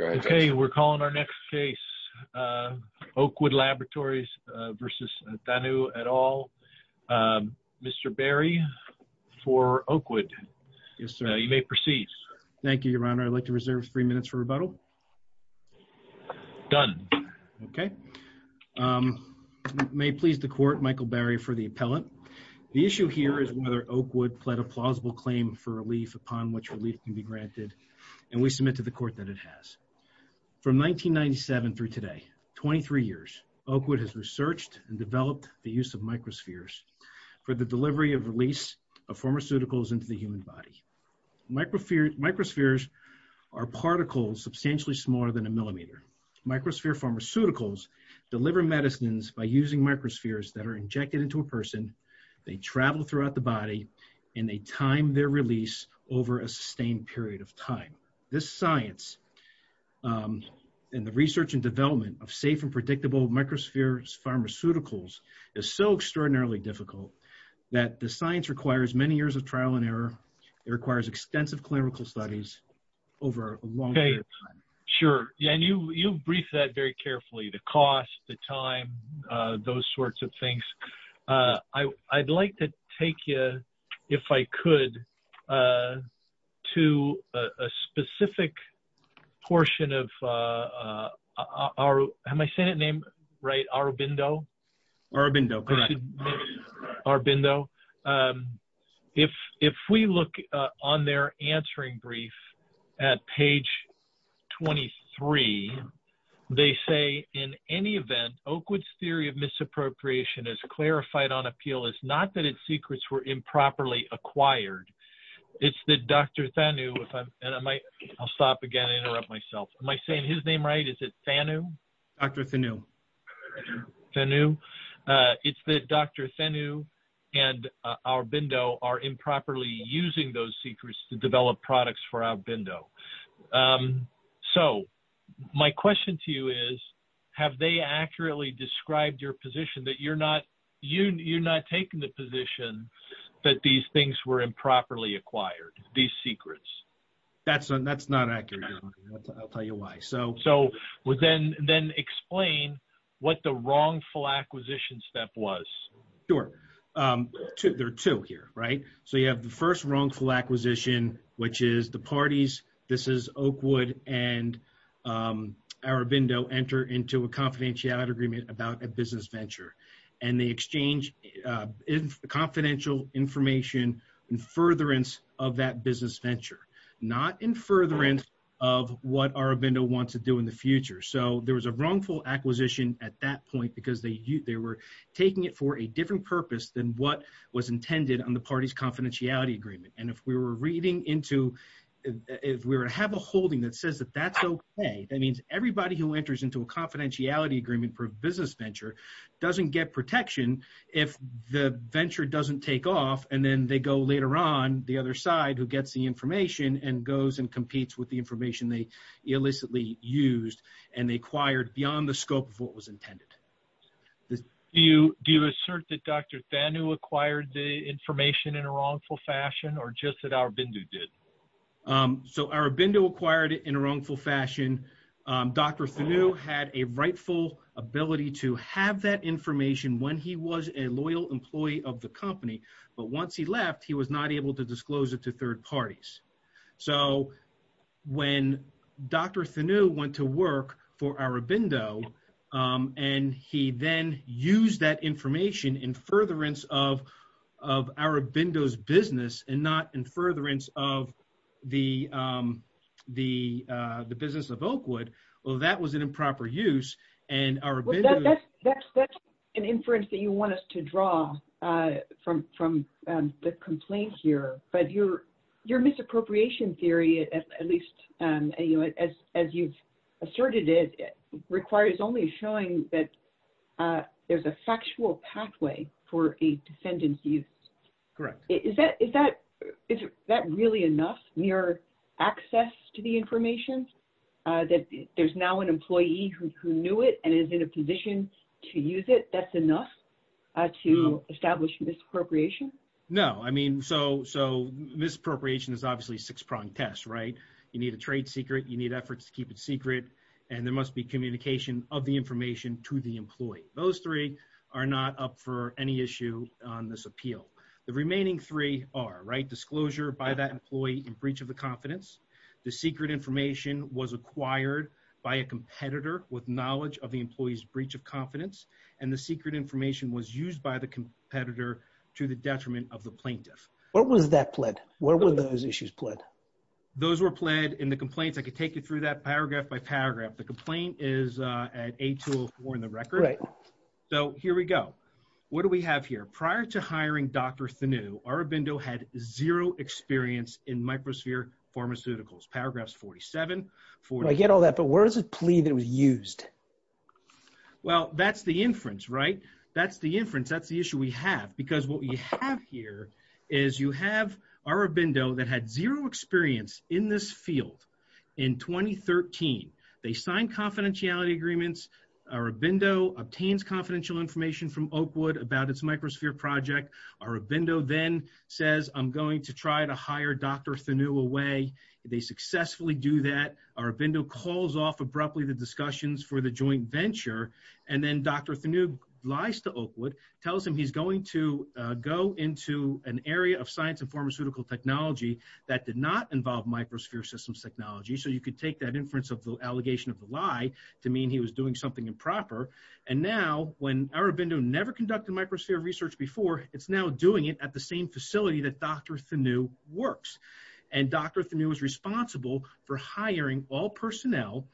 Okay we're calling our next case Oakwood Laboratories v. Thanoo et al. Mr. Barry for Oakwood. Yes sir. You may proceed. Thank you your honor I'd like to reserve three minutes for rebuttal. Done. Okay may please the court Michael Barry for the appellate. The issue here is whether Oakwood pled a plausible claim for relief upon which relief can be granted and we submit to the court that it has. From 1997 through today, 23 years, Oakwood has researched and developed the use of microspheres for the delivery of release of pharmaceuticals into the human body. Microspheres are particles substantially smaller than a millimeter. Microsphere pharmaceuticals deliver medicines by using microspheres that are injected into a person, they travel throughout the body, and they time their release over a sustained period of time. This science and the research and development of safe and predictable microspheres pharmaceuticals is so extraordinarily difficult that the science requires many years of trial and error. It requires extensive clinical studies over a long period of time. Sure yeah and you you briefed that very carefully the cost, the time, those sorts of things. I'd like to take you, if I could, to a specific portion of our, am I saying it name right, Aurobindo? Aurobindo, correct. Aurobindo. If if we look on their answering brief at page 23, they say in any event Oakwood's theory of misappropriation is clarified on appeal. It's not that its secrets were improperly acquired. It's that Dr. Thanew, and I might, I'll stop again, interrupt myself, am I saying his name right? Is it Thanew? Dr. Thanew. Thanew. It's that Dr. Thanew and Aurobindo are improperly using those secrets to develop products for Aurobindo. So my question to you is, have they accurately described your position that you're not, you're not taking the position that these things were improperly acquired, these secrets? That's not accurate. I'll tell you why. So then explain what the wrongful acquisition step was. Sure. There are two here, right? So you have the first wrongful acquisition, which is the parties, this is Oakwood and Aurobindo, enter into a confidentiality agreement about a business venture. And they exchange confidential information in furtherance of that business venture, not in furtherance of what Aurobindo wants to do in the future. So there was a wrongful acquisition at that point because they were taking it for a different purpose than what was intended on the party's confidentiality agreement. And if we were reading into, if we were to have a holding that says that that's okay, that means everybody who enters into a confidentiality agreement for a business venture doesn't get protection if the venture doesn't take off. And then they go later on the other side who gets the information and goes and competes with the information they illicitly used, and they acquired beyond the scope of what was intended. Do you do assert that Dr. Thanu acquired the information in a wrongful fashion or just that Aurobindo did? So Aurobindo acquired it in a wrongful fashion. Dr. Thanu had a rightful ability to have that information when he was a loyal employee of the company. But once he left, he was not able to disclose it to third parties. So when Dr. Thanu went to work for Aurobindo, and he then used that information in furtherance of Aurobindo's business and not in furtherance of the business of Oakwood, well, that was an improper use. And Aurobindo... Well, that's an inference that you want us to draw from the complaint here. But your misappropriation theory, at least, as you've asserted it, requires only showing that there's a factual pathway for a defendant's use. Correct. Is that really enough, mere access to the information, that there's now an employee who knew it and is in a position to use it? That's enough to establish misappropriation? No, I mean, so misappropriation is obviously a six-pronged test, right? You need a trade secret, you need efforts to keep it secret, and there must be information to the employee. Those three are not up for any issue on this appeal. The remaining three are, right? Disclosure by that employee in breach of the confidence, the secret information was acquired by a competitor with knowledge of the employee's breach of confidence, and the secret information was used by the competitor to the detriment of the plaintiff. What was that pled? Where were those issues pled? Those were pled in the complaints. I could take you through that paragraph by paragraph. The complaint is at A204 in the record. Right. So here we go. What do we have here? Prior to hiring Dr. Thuneau, Arabindo had zero experience in Microsphere Pharmaceuticals. Paragraphs 47, 48. I get all that, but where is the plea that was used? Well, that's the inference, right? That's the inference. That's the issue we have. Because what we have here is you have Arabindo that had zero experience in this field. In 2013, they signed confidentiality agreements. Arabindo obtains confidential information from Oakwood about its Microsphere project. Arabindo then says, I'm going to try to hire Dr. Thuneau away. They successfully do that. Arabindo calls off abruptly the discussions for the joint venture. And then Dr. Thuneau lies to Oakwood, tells him he's going to go into an area of science and pharmaceutical technology that did not involve Microsphere systems technology. So you could take that inference of the allegation of the lie to mean he was doing something improper. And now when Arabindo never conducted Microsphere research before, it's now doing it at the same facility that Dr. Thuneau works. And Dr. Thuneau is responsible for hiring all personnel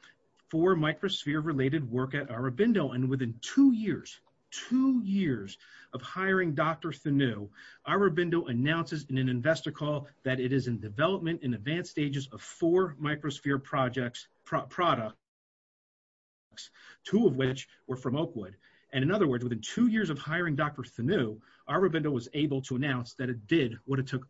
for Microsphere related work at Arabindo. And within two years, two years of hiring Dr. Thuneau, Arabindo announces in an investor call that it is in development in advanced stages of four Microsphere products, two of which were from Oakwood. And in other words, within two years of hiring Dr. Thuneau, Arabindo was able to announce that it did what it took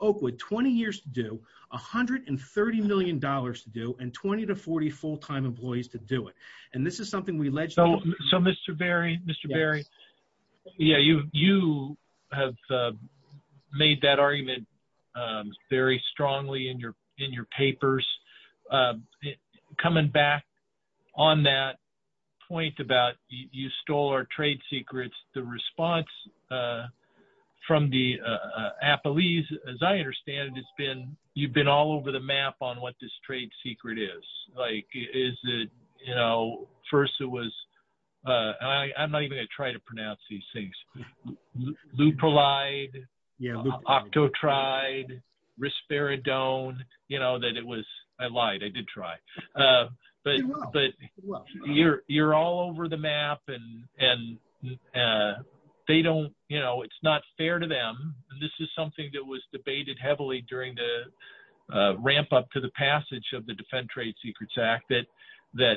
Oakwood 20 years to do, $130 million to do, and 20 to 40 full-time employees to do it. And this is something we alleged. So Mr. Berry, Mr. Berry, yeah, you have made that argument very strongly in your in your papers. Coming back on that point about you stole our trade secrets, the response from the Applees, as I understand it, it's been you've been all over the map on what this trade secret is, like, is it, you know, first, it was, I'm not even gonna try to pronounce these things, Leupolide, yeah, Octotride, Risperidone, you know, that it was, I lied, I did try. But, but you're, you're all over the map. And, and they don't, you know, it's not fair to them. This is something that was debated heavily during the ramp up to the passage of the Defend Trade Secrets Act, that, that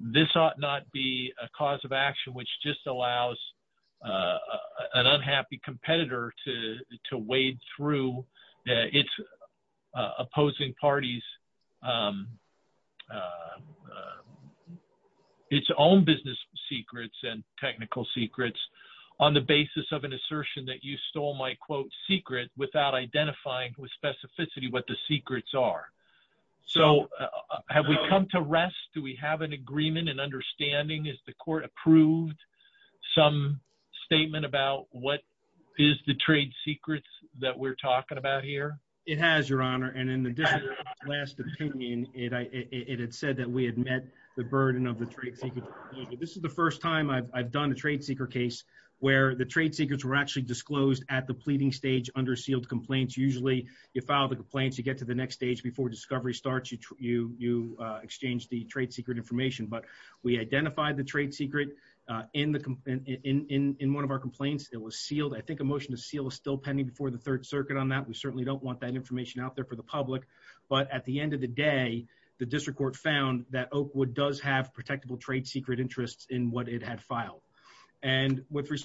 this ought not be a cause of action, which just allows an unhappy competitor to, to wade through its opposing parties, its own business secrets and technical secrets, on the basis of an assertion that you stole my, quote, secret without identifying with specificity what the so have we come to rest? Do we have an agreement and understanding? Is the court approved some statement about what is the trade secrets that we're talking about here? It has, Your Honor. And in the last opinion, it had said that we had met the burden of the trade secret. This is the first time I've done a trade secret case where the trade secrets were actually disclosed at the pleading stage under sealed complaints. Usually you file the complaints, you get to the next stage before discovery starts. You, you, you exchange the trade secret information. But we identified the trade secret in the, in one of our complaints. It was sealed. I think a motion to seal is still pending before the Third Circuit on that. We certainly don't want that information out there for the public. But at the end of the day, the district court found that Oak Wood does have protectable trade secret interests in what it had filed. And with And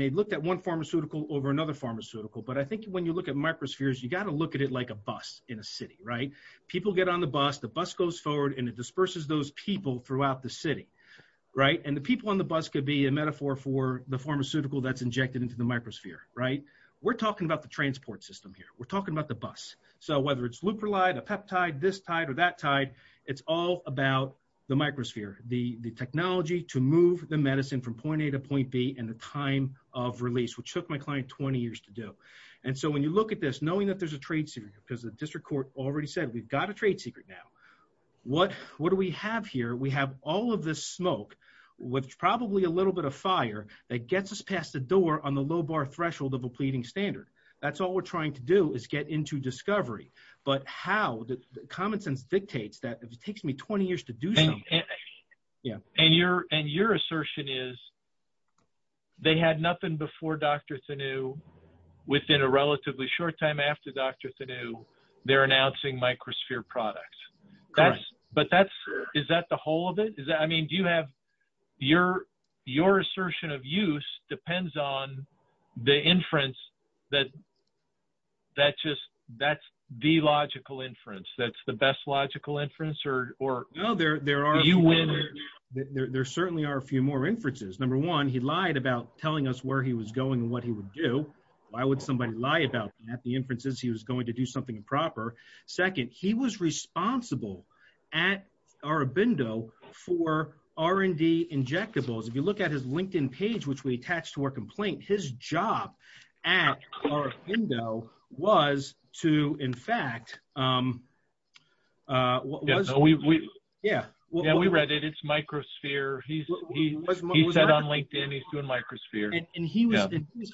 they looked at one pharmaceutical over another pharmaceutical. But I think when you look at microspheres, you got to look at it like a bus in a city, right? People get on the bus, the bus goes forward, and it disperses those people throughout the city, right? And the people on the bus could be a metaphor for the pharmaceutical that's injected into the microsphere, right? We're talking about the transport system here, we're talking about the bus. So whether it's loop relied a peptide, this tide or that tide, it's all about the be in the time of release, which took my client 20 years to do. And so when you look at this, knowing that there's a trade secret, because the district court already said, we've got a trade secret. Now, what, what do we have here, we have all of this smoke, with probably a little bit of fire that gets us past the door on the low bar threshold of a pleading standard. That's all we're trying to do is get into discovery. But how the common sense dictates that it takes me 20 years to do. Yeah, and your and your assertion is, they had nothing before Dr. Thuneau, within a relatively short time after Dr. Thuneau, they're announcing microsphere products. But that's, is that the whole of it? Is that I mean, do you have your, your assertion of use depends on the inference, that that just, that's the logical inference, that's the best logical inference or no, there, there are, there certainly are a few more inferences. Number one, he lied about telling us where he was going and what he would do. Why would somebody lie about that the inferences he was going to do something improper? Second, he was responsible at Aurobindo for R&D injectables. If you look at his LinkedIn page, which we attached to our complaint, his job at Aurobindo was to in fact, yeah, well, we read it, it's microsphere. He said on LinkedIn, he's doing microsphere. And he was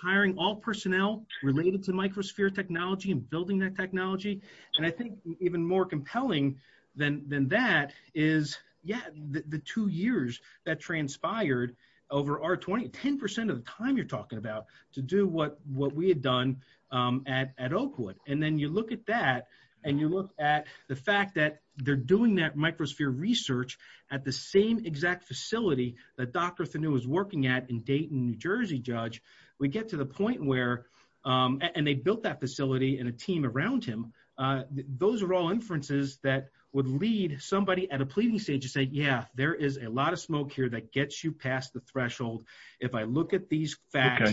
hiring all personnel related to microsphere technology and building that technology. And I think even more compelling than than that is, yeah, the two years that transpired over our 20, 10% of the time you're talking about to what, what we had done at, at Oakwood. And then you look at that, and you look at the fact that they're doing that microsphere research at the same exact facility that Dr. Thuneau was working at in Dayton, New Jersey, judge, we get to the point where, and they built that facility and a team around him. Those are all inferences that would lead somebody at a pleading stage to say, yeah, there is a lot of smoke here that gets you past the threshold. If I look at these facts,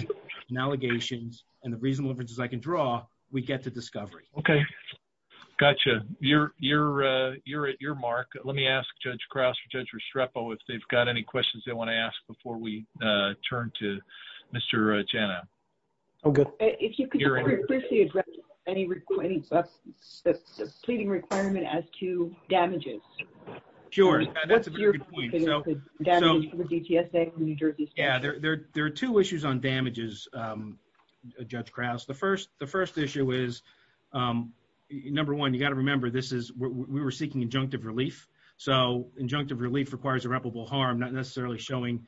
and allegations, and the reasonable inferences I can draw, we get to discovery. Okay. Gotcha. You're, you're, you're at your mark. Let me ask Judge Crouse or Judge Restrepo, if they've got any questions they want to ask before we turn to Mr. Janna. Okay, if you could any, pleading requirement as to damages. Sure. That's a very good point. So, so, yeah, there, there, there are two issues on damages, Judge Crouse. The first, the first issue is, number one, you got to remember, this is, we were seeking injunctive relief. So injunctive relief requires irreparable harm, not necessarily showing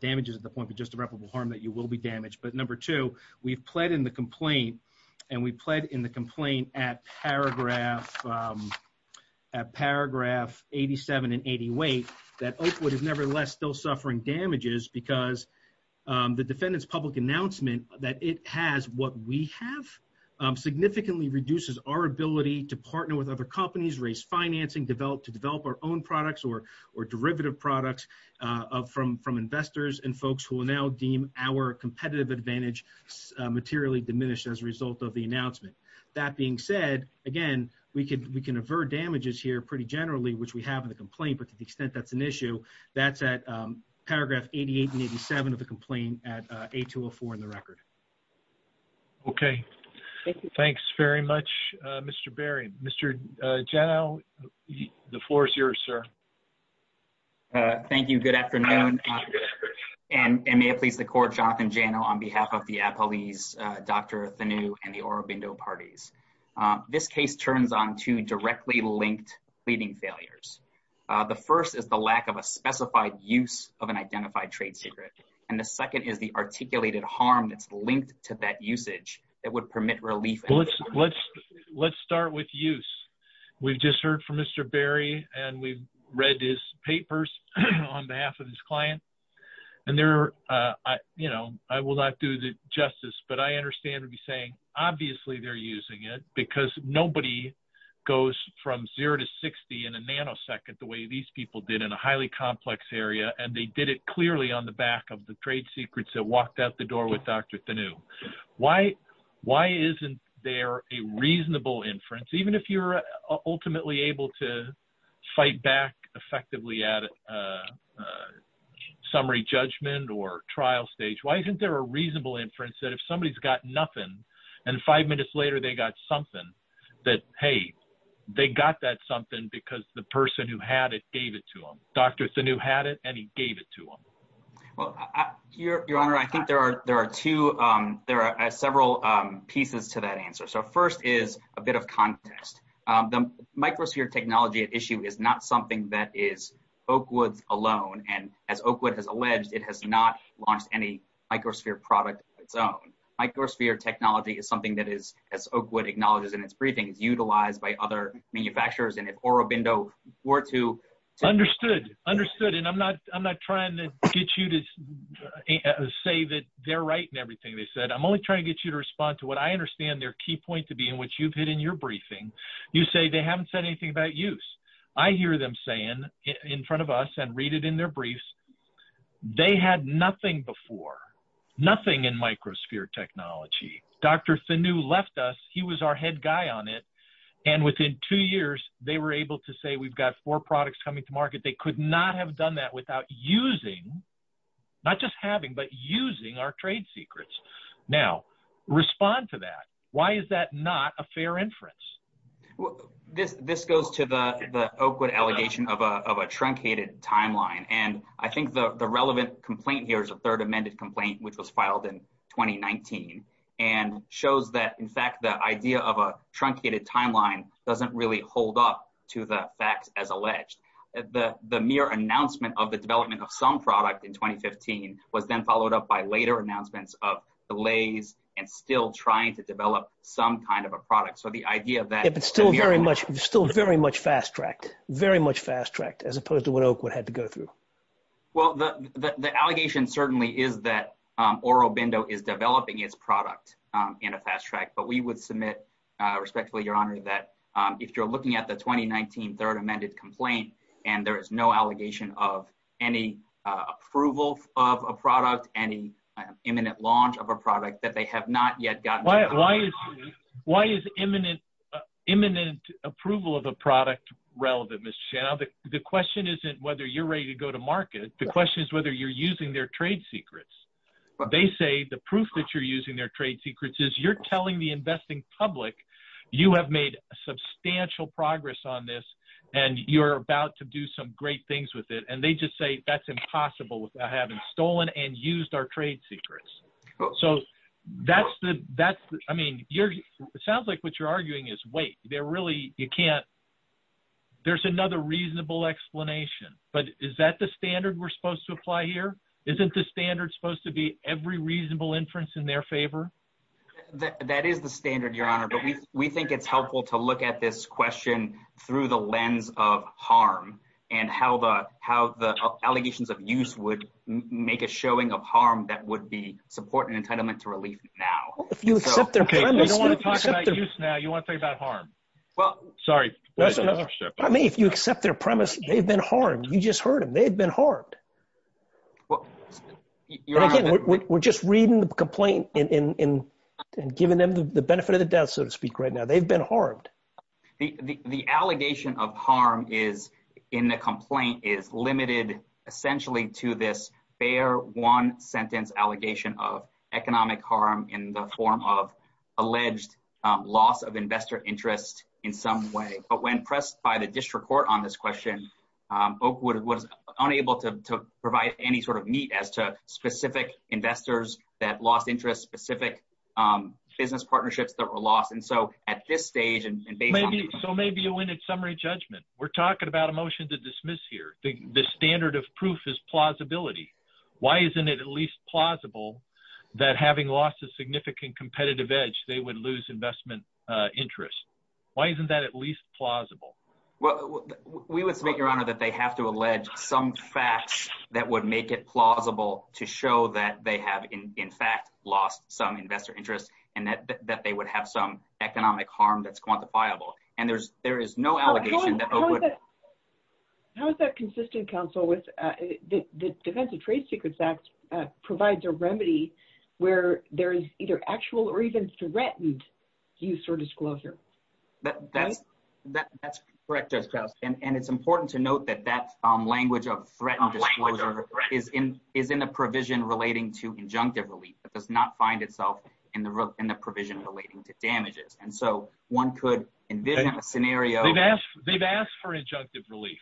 damages at the point of just irreparable harm, that you will be damaged. But number two, we've pled in the complaint, and we pled in the complaint at paragraph, at paragraph 87 and 88, that Oakwood is nevertheless still suffering damages, because the defendant's public announcement that it has what we have, significantly reduces our ability to partner with other companies, raise financing, develop, to develop our own products, or, or derivative products from, from investors and folks who will now deem our competitive advantage materially diminished as a result of the announcement. That being said, again, we we can avert damages here pretty generally, which we have in the complaint, but to the extent that's an issue, that's at paragraph 88 and 87 of the complaint at A204 in the record. Okay. Thanks very much, Mr. Berry. Mr. Janow, the floor is yours, sir. Thank you. Good afternoon. And may it please the court, Jonathan Janow on behalf of the Appalese, Dr. Thanew, and the Orobindo parties. This case turns on two directly linked pleading failures. The first is the lack of a specified use of an identified trade secret. And the second is the articulated harm that's linked to that usage that would permit relief. Well, let's, let's, let's start with use. We've just heard from Mr. Berry, and we've read his papers on behalf of his client. And there, you know, I will not do the justice, but I understand to be saying, obviously, they're using it because nobody goes from zero to 60 in a nanosecond the way these people did in a highly complex area. And they did it clearly on the back of the trade secrets that walked out the door with Dr. Thanew. Why, why isn't there a reasonable inference, even if you're ultimately able to fight back effectively at summary judgment or trial stage, why isn't there a reasonable inference that if somebody's got nothing, and five minutes later, they got something that, hey, they got that something because the person who had it gave it to them, Dr. Thanew had it, and he gave it to them? Well, Your Honor, I think there are there are two, there are several pieces to that answer. So first is a bit of contest. The microsphere technology at issue is not something that is Oakwood's alone. And as Oakwood has alleged, it has not launched any microsphere product of its own. Microsphere technology is something that is, as Oakwood acknowledges in its briefings, utilized by other manufacturers. And if Orobindo were to... Understood, understood. And I'm not I'm not trying to get you to say that they're right and everything they said, I'm only trying to get you to respond to what I understand their key point to be in which you've hit in your briefing. You say they haven't said anything about use. I hear them saying in front of us and read it in their briefs. They had nothing before, nothing in microsphere technology. Dr. Thanew left us. He was our head guy on it. And within two years, they were able to say we've got four products coming to market. They could not have done that without using, not just having, but using our trade secrets. Now, respond to that. Why is that not a fair inference? This goes to the Oakwood allegation of a truncated timeline. And I think the relevant complaint here is a third amended complaint, which was filed in 2019 and shows that, in fact, the idea of a truncated timeline doesn't really hold up to the facts as alleged. The mere announcement of the development of some product in 2015 was then followed up by later announcements of delays and still trying to develop some kind of a product. So the idea that it's still very much, still very much fast tracked, very much fast tracked, as opposed to what Oakwood had to go through. Well, the allegation certainly is that Oro Bindo is developing its product in a fast track. But we would submit respectfully, Your Honor, that if you're looking at the 2019 third amended complaint and there is no allegation of any approval of a product, any imminent launch of a product. Why is imminent approval of a product relevant, Mr. Chenow? The question isn't whether you're ready to go to market. The question is whether you're using their trade secrets. They say the proof that you're using their trade secrets is you're telling the investing public you have made a substantial progress on this and you're about to do some great things with it. And they just say that's impossible without having stolen and used our trade secrets. So that's the, I mean, it sounds like what you're arguing is, wait, there really, you can't, there's another reasonable explanation. But is that the standard we're supposed to apply here? Isn't the standard supposed to be every reasonable inference in their favor? That is the standard, Your Honor. But we think it's helpful to look at this question through the lens of harm and how the allegations of use would make a showing of harm that would be support and entitlement to relief now. If you accept their premise, you want to talk about harm? Well, sorry. I mean, if you accept their premise, they've been harmed. You just heard him. They've been harmed. We're just reading the complaint and giving them the benefit of the doubt, so to speak right now. They've been harmed. The allegation of harm is in the complaint is limited essentially to this fair one sentence allegation of economic harm in the form of alleged loss of investor interest in some way. But when pressed by the district court on this question, Oakwood was unable to provide any sort of meat as to specific investors that lost interest, specific business partnerships that were lost. And so at this stage and maybe so maybe a summary judgment. We're talking about a motion to dismiss here. The standard of proof is plausibility. Why isn't it at least plausible that having lost a significant competitive edge, they would lose investment interest? Why isn't that at least plausible? Well, we would submit, Your Honor, that they have to allege some facts that would make it plausible to show that they have, in fact, lost some investor interest and that that they would have some economic harm that's quantifiable. And there's there is no allegation that would. How is that consistent counsel with the Defense of Trade Secrets Act provides a remedy where there is either actual or even threatened use or disclosure that that's that that's correct. And it's important to note that that language of threatened disclosure is in is in a provision relating to injunctive relief that does not find itself in the in the provision relating to damages. And so one could envision a scenario. They've asked for injunctive relief.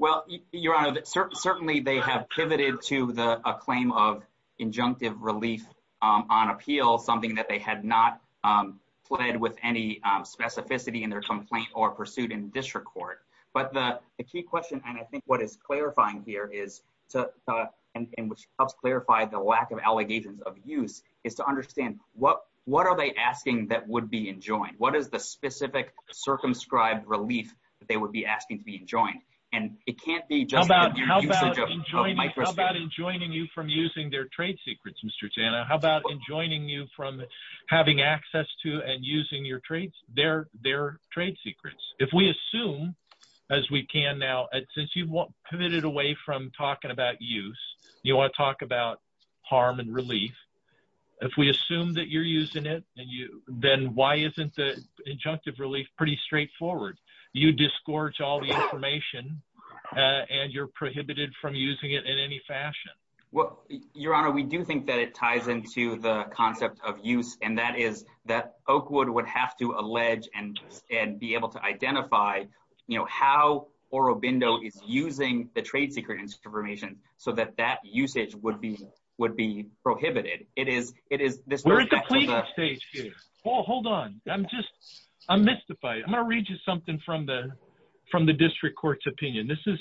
Well, Your Honor, certainly they have pivoted to the claim of injunctive relief on appeal, something that they had not fled with any specificity in their complaint or pursued in district court. But the key question and I think what is clarifying here is, and which helps clarify the lack of allegations of use is to understand what what are they asking that would be enjoined? What is the specific circumscribed relief that they would be asking to be enjoined? And it can't be just about how about enjoying about enjoining you from using their trade secrets, Mr. Janna. How about enjoining you from having access to and using your traits? They're their trade secrets. If we assume as we can now, since you won't pivoted away from talking about use, you want to talk about harm and relief. If we assume that you're using it and you then why isn't the injunctive relief pretty straightforward? You discourage all the information and you're prohibited from using it in any fashion. Well, Your Honor, we do think that it ties into the concept of use, and that is that Oakwood would have to allege and and be so that that usage would be would be prohibited. It is it is this stage. Hold on. I'm just I'm mystified. I'm gonna read you something from the from the district court's opinion. This is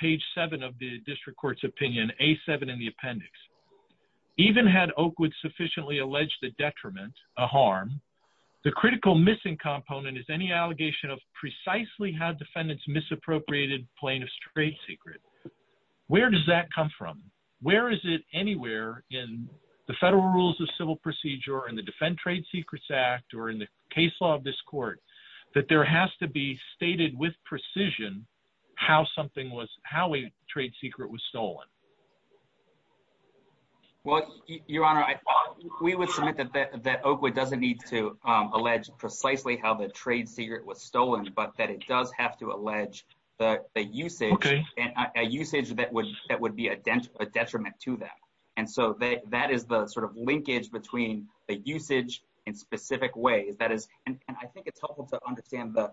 page seven of the district court's opinion, a seven in the appendix. Even had Oakwood sufficiently alleged the detriment a harm. The critical missing component is any allegation of precisely how defendants misappropriated plaintiff's trade secret. Where does that come from? Where is it? Anywhere in the federal rules of civil procedure and the Defend Trade Secrets Act or in the case law of this court that there has to be stated with precision how something was how a trade secret was stolen. Well, Your Honor, we would submit that that Oakwood doesn't need to allege precisely how the trade secret was stolen, but that it does have to allege that the usage and usage that would that would be a dent a detriment to that. And so that is the sort of linkage between the usage in specific ways. That is, and I think it's helpful to understand the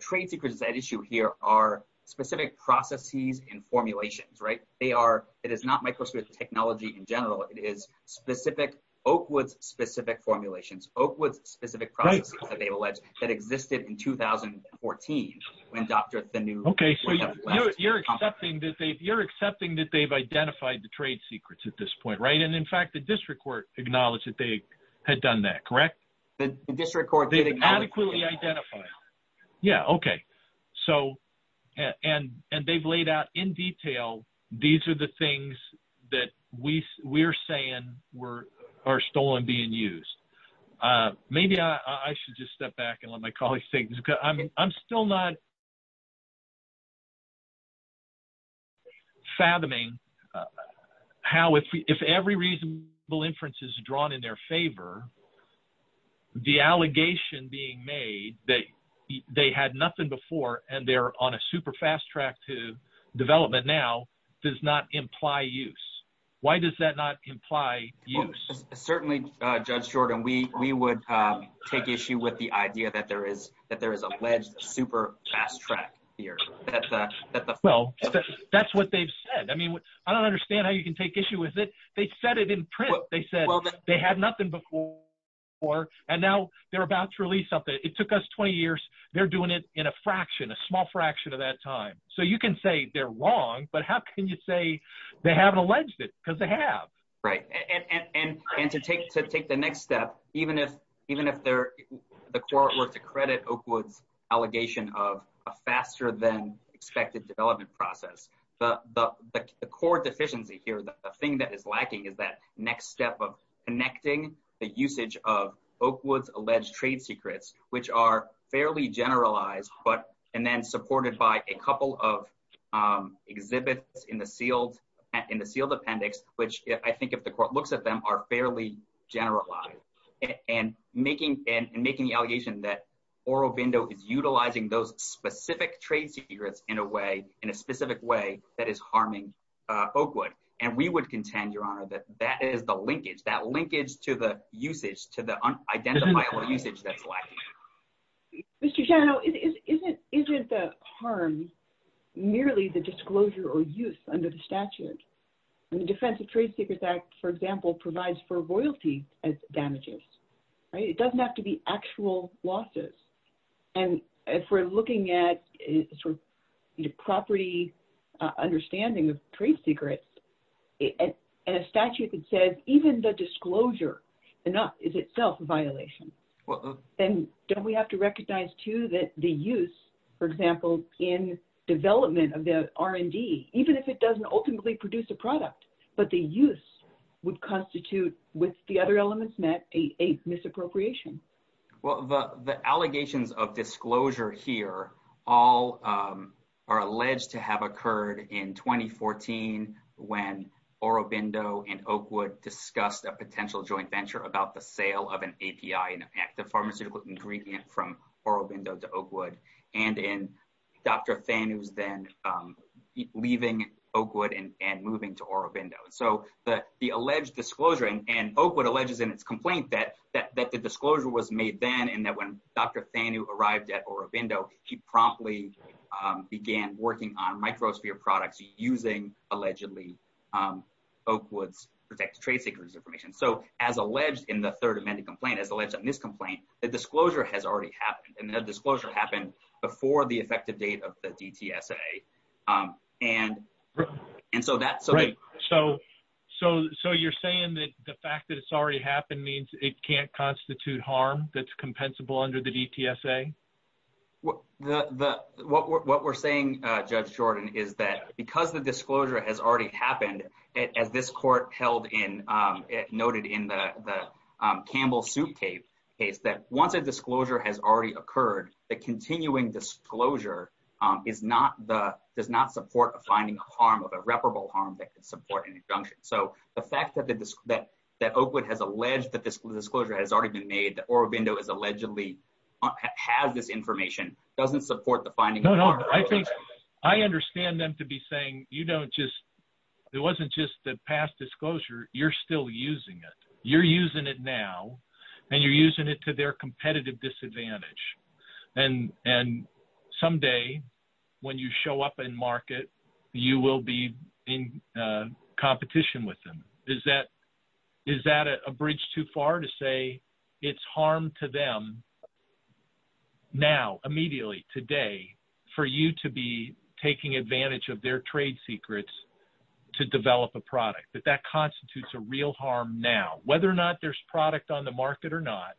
trade secrets. That issue here are specific processes and formulations, right? They are. It is not Microsoft technology in general. It is specific Oakwood's specific formulations, Oakwood's specific processes that they've alleged that existed in 2014 when Dr. Thaneu. Okay, so you're accepting that they've you're accepting that they've identified the trade secrets at this point, right? And in fact, the district court acknowledged that they had done that, correct? The district court did adequately identify. Yeah, okay. So and and they've laid out in detail. These are the things that we we're saying were are stolen being used. Maybe I should just step back and let my colleagues take this because I'm still not fathoming how if if every reasonable inference is drawn in their favor, the allegation being made that they had nothing before and they're on a super fast track to development now does not imply use. Why does that not imply use? Certainly, Judge Jordan, we would take issue with the idea that there is that there is alleged super fast track here. Well, that's what they've said. I mean, I don't understand how you can take issue with it. They said it in print. They said they had nothing before or and now they're about to release something. It took us 20 years. They're doing it in a fraction, a small fraction of that time. So you can say they're wrong. But how can you say they haven't alleged it? Because they have, right? And to take to take the next step, even if even if they're the court were to credit Oakwood's allegation of a faster than expected development process, the court deficiency here, the thing that is lacking is that next step of connecting the usage of Oakwood's alleged trade secrets, which are fairly generalized, but and then supported by a couple of exhibits in the sealed in the sealed appendix, which I think if the court looks at them are fairly generalized and making and making the allegation that Oro Bindo is utilizing those specific trade secrets in a way in a specific way that is harming Oakwood. And we would contend, Your Honor, that that is the linkage that linkage to the usage to the unidentifiable usage that's like Mr. Shanno isn't isn't the harm merely the disclosure or use under the statute and the Defense of Trade Secrets Act, for example, provides for royalty as damages, right? It doesn't have to be actual losses. And if we're looking at sort of property understanding of trade secrets and a statute that says even the don't we have to recognize, too, that the use, for example, in development of the R&D, even if it doesn't ultimately produce a product, but the use would constitute with the other elements met a misappropriation. Well, the the allegations of disclosure here all are alleged to have occurred in 2014, when Oro Bindo and Oakwood discussed a potential joint venture about the sale of an API and active pharmaceutical ingredient from Oro Bindo to Oakwood, and in Dr. Thanew's then leaving Oakwood and moving to Oro Bindo. So the the alleged disclosure and Oakwood alleges in its complaint that that the disclosure was made then and that when Dr. Thanew arrived at Oro Bindo, he promptly began working on microsphere products using allegedly Oakwood's trade secrets information. So as alleged in the third amended complaint, as alleged on this complaint, the disclosure has already happened and the disclosure happened before the effective date of the DTSA. And and so that's right. So so so you're saying that the fact that it's already happened means it can't constitute harm that's compensable under the DTSA? What the what we're saying, Judge Jordan, is that because the disclosure has already happened, as this court held in, noted in the Campbell soup case, that once a disclosure has already occurred, the continuing disclosure is not the does not support a finding of harm of irreparable harm that could support an injunction. So the fact that the that that Oakwood has alleged that this disclosure has already been made that Oro Bindo is allegedly has this information doesn't support the finding. No, no, I think I understand them to be saying, you know, just it wasn't just the past disclosure. You're still using it. You're using it now and you're using it to their competitive disadvantage. And and someday when you show up in market, you will be in competition with them. Is that is that a bridge too far to say it's harm to them now, immediately today for you to be taking advantage of their trade secrets to develop a product that that constitutes a real harm. Now, whether or not there's product on the market or not,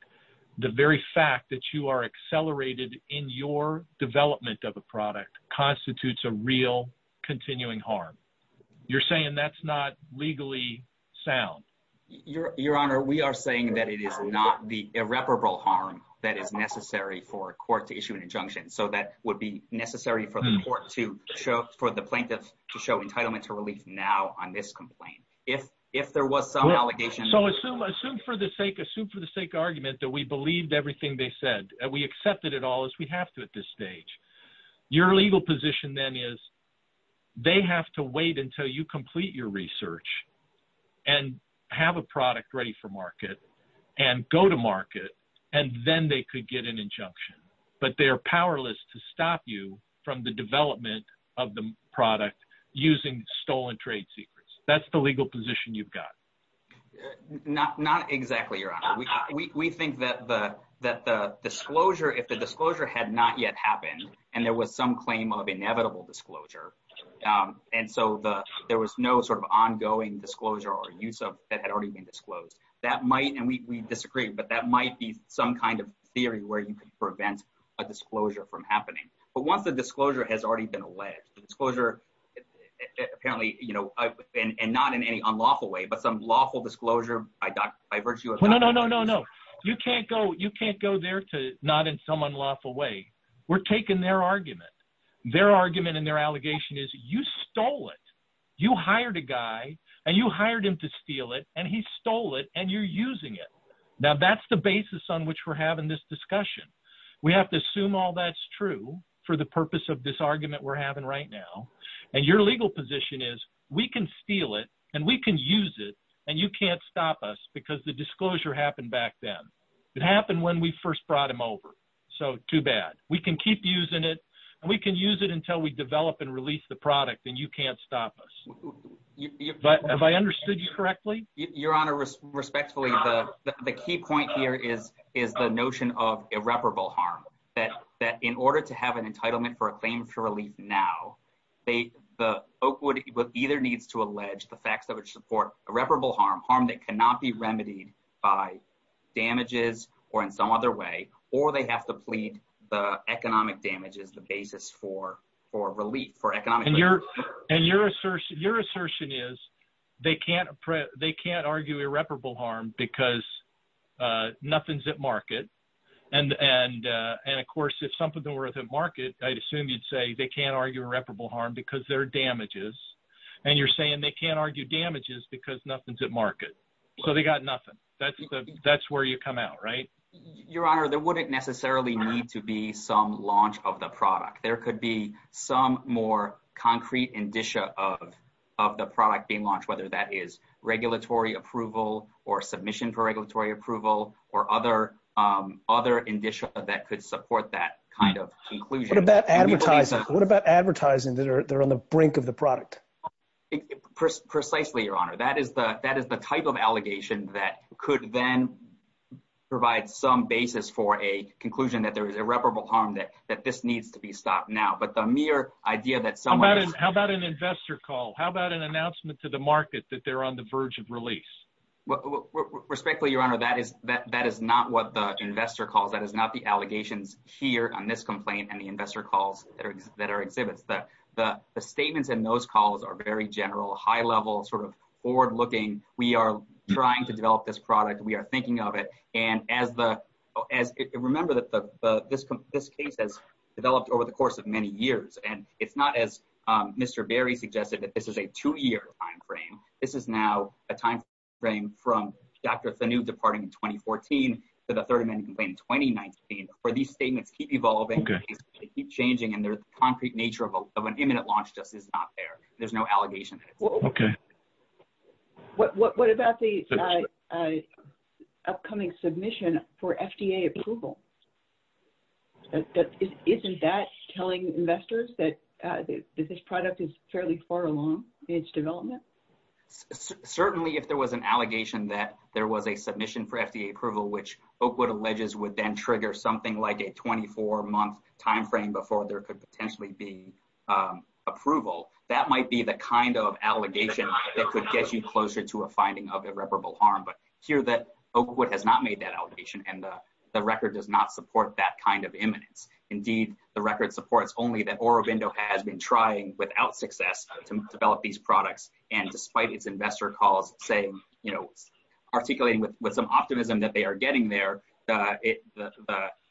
the very fact that you are accelerated in your development of a product constitutes a real continuing harm. You're saying that's not legally sound. Your Your Honor, we are saying that it is not the irreparable harm that is necessary for a court to issue an injunction. So that would be necessary for the court to show for the plaintiffs to show entitlement to relief now on this complaint. If if there was some allegation, so assume assume for the sake, assume for the sake argument that we believed everything they said. We accepted it all as we have to at this stage. Your legal position then is they have to wait until you complete your research and have a product ready for market and go to market, and then they could get an injunction. But they're powerless to stop you from the development of the product using stolen trade secrets. That's the legal position you've got. Not not exactly your honor. We think that the that the disclosure if the disclosure had not yet happened and there was some claim of inevitable disclosure and so the there was no sort of ongoing disclosure or use of that had already been disclosed that might and we disagree but that might be some kind of theory where you could prevent a disclosure from happening but once the disclosure has already been alleged disclosure apparently you know I've been and not in any unlawful way but some lawful disclosure by virtue of no no no no no you can't go you can't go there to not in some unlawful way we're taking their argument their argument and their allegation is you stole it you hired a guy and you hired him to steal it and he stole it and you're using it now that's the basis on which we're having this discussion we have to assume all that's true for the purpose of this argument we're having right now and your legal position is we can steal it and we can use it and you can't stop us because the disclosure happened back then it happened when we first brought him over so too bad we can keep using it and we can use it until we develop and release the product and you can't stop us but have I understood you correctly your honor respectfully the key point here is is the notion of irreparable harm that that in order to have an entitlement for a claim for relief now they the oakwood either needs to allege the facts that would support irreparable harm harm that cannot be remedied by damages or in some other way or they have to plead the economic damage is the basis for for relief for economic and your and your assertion your assertion is they can't print they can't argue irreparable harm because nothing's at market and and and of course if something worth of market I'd assume you'd say they can't argue irreparable harm because their damages and you're saying they can't argue damages because nothing's at market so they got nothing that's that's where you come out right your honor there wouldn't necessarily need to be some launch of the product there could be some more concrete indicia of of the product being launched whether that is regulatory approval or submission for regulatory approval or other other indicia that could support that kind of conclusion about advertising what about advertising that are there on the brink of the product precisely your honor that is the that is the type of allegation that could then provide some basis for a conclusion that there is irreparable harm that that this needs to be stopped now but the mere idea that someone how about an investor call how about an announcement to the market that they're on the verge of release respectfully your honor that is that that is not what the investor calls that is not the allegations here on this complaint and the investor calls that are exhibits that the statements and those calls are very general high-level sort of forward-looking we are trying to develop this product we are thinking of it and as the as remember that the this this case has developed over the course of many years and it's not as mr. Barry suggested that this is a two-year time frame this is now a time frame from dr. the new departing in 2014 to the third amendment in 2019 for these statements keep evolving keep changing and their concrete nature of an imminent launch there's no allegation okay what about the upcoming submission for FDA approval isn't that telling investors that this product is fairly far along its development certainly if there was an allegation that there was a submission for FDA approval which oakwood alleges would then trigger something like a 24 month time frame before there could potentially be approval that might be the kind of allegation that could get you closer to a finding of irreparable harm but here that oakwood has not made that allegation and the record does not support that kind of imminence indeed the record supports only that or a window has been trying without success to develop these products and despite its investor calls saying you know articulating with with some optimism that they are getting there it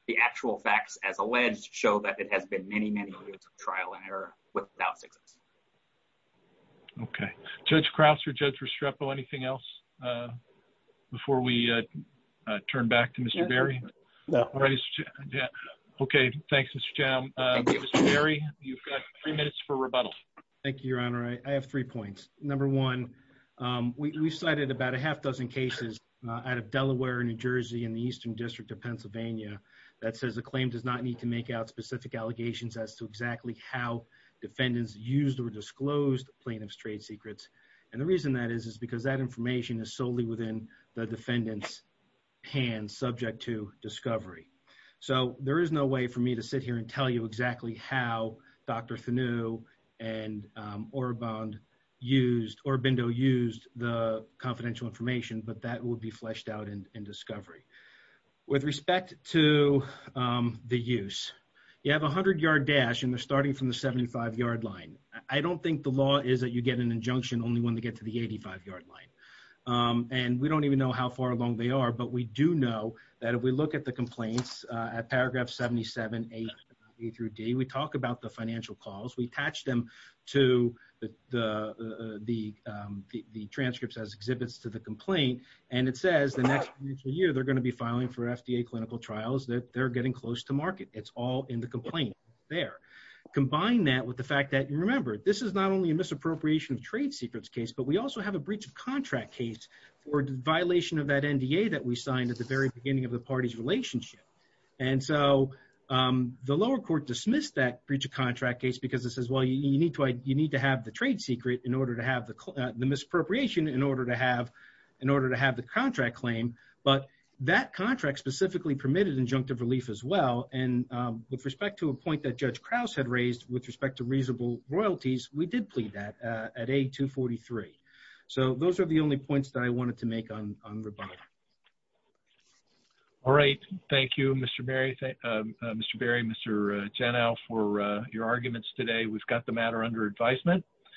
the actual facts as alleged show that it has been many many years of trial and error without success okay judge Krause or judge Restrepo anything else before we turn back to mr. Barry yeah okay thanks mr. Barry you've got three minutes for rebuttal thank you your honor I have three points number one we cited about a half dozen cases out of Delaware New Jersey in the Eastern District of Pennsylvania that says the claim does not need to make out specific allegations as to exactly how defendants used or disclosed plaintiffs trade secrets and the reason that is is because that information is solely within the defendants hand subject to discovery so there is no way for me to sit here and tell you exactly how dr. Thuneau and or bond used or Bindo used the confidential information but that would be fleshed out in discovery with respect to the use you have a hundred yard dash and they're starting from the 75 yard line I don't think the law is that you get an injunction only one to get to the 85 yard line and we don't even know how far along they are but we do know that if we look at the complaints at paragraph 77 a through D we talk about the financial calls we the transcripts as exhibits to the complaint and it says the next year they're going to be filing for FDA clinical trials that they're getting close to market it's all in the complaint there combine that with the fact that you remember this is not only a misappropriation of trade secrets case but we also have a breach of contract case for violation of that NDA that we signed at the very beginning of the party's relationship and so the lower court dismissed that breach of contract case because this is well you need to I you need to have the trade secret in order to have the misappropriation in order to have in order to have the contract claim but that contract specifically permitted injunctive relief as well and with respect to a point that Judge Krause had raised with respect to reasonable royalties we did plead that at a 243 so those are the only points that I wanted to make on rebuttal all right Thank You mr. Barry thank mr. Barry mr. for your arguments today we've got the matter under advisement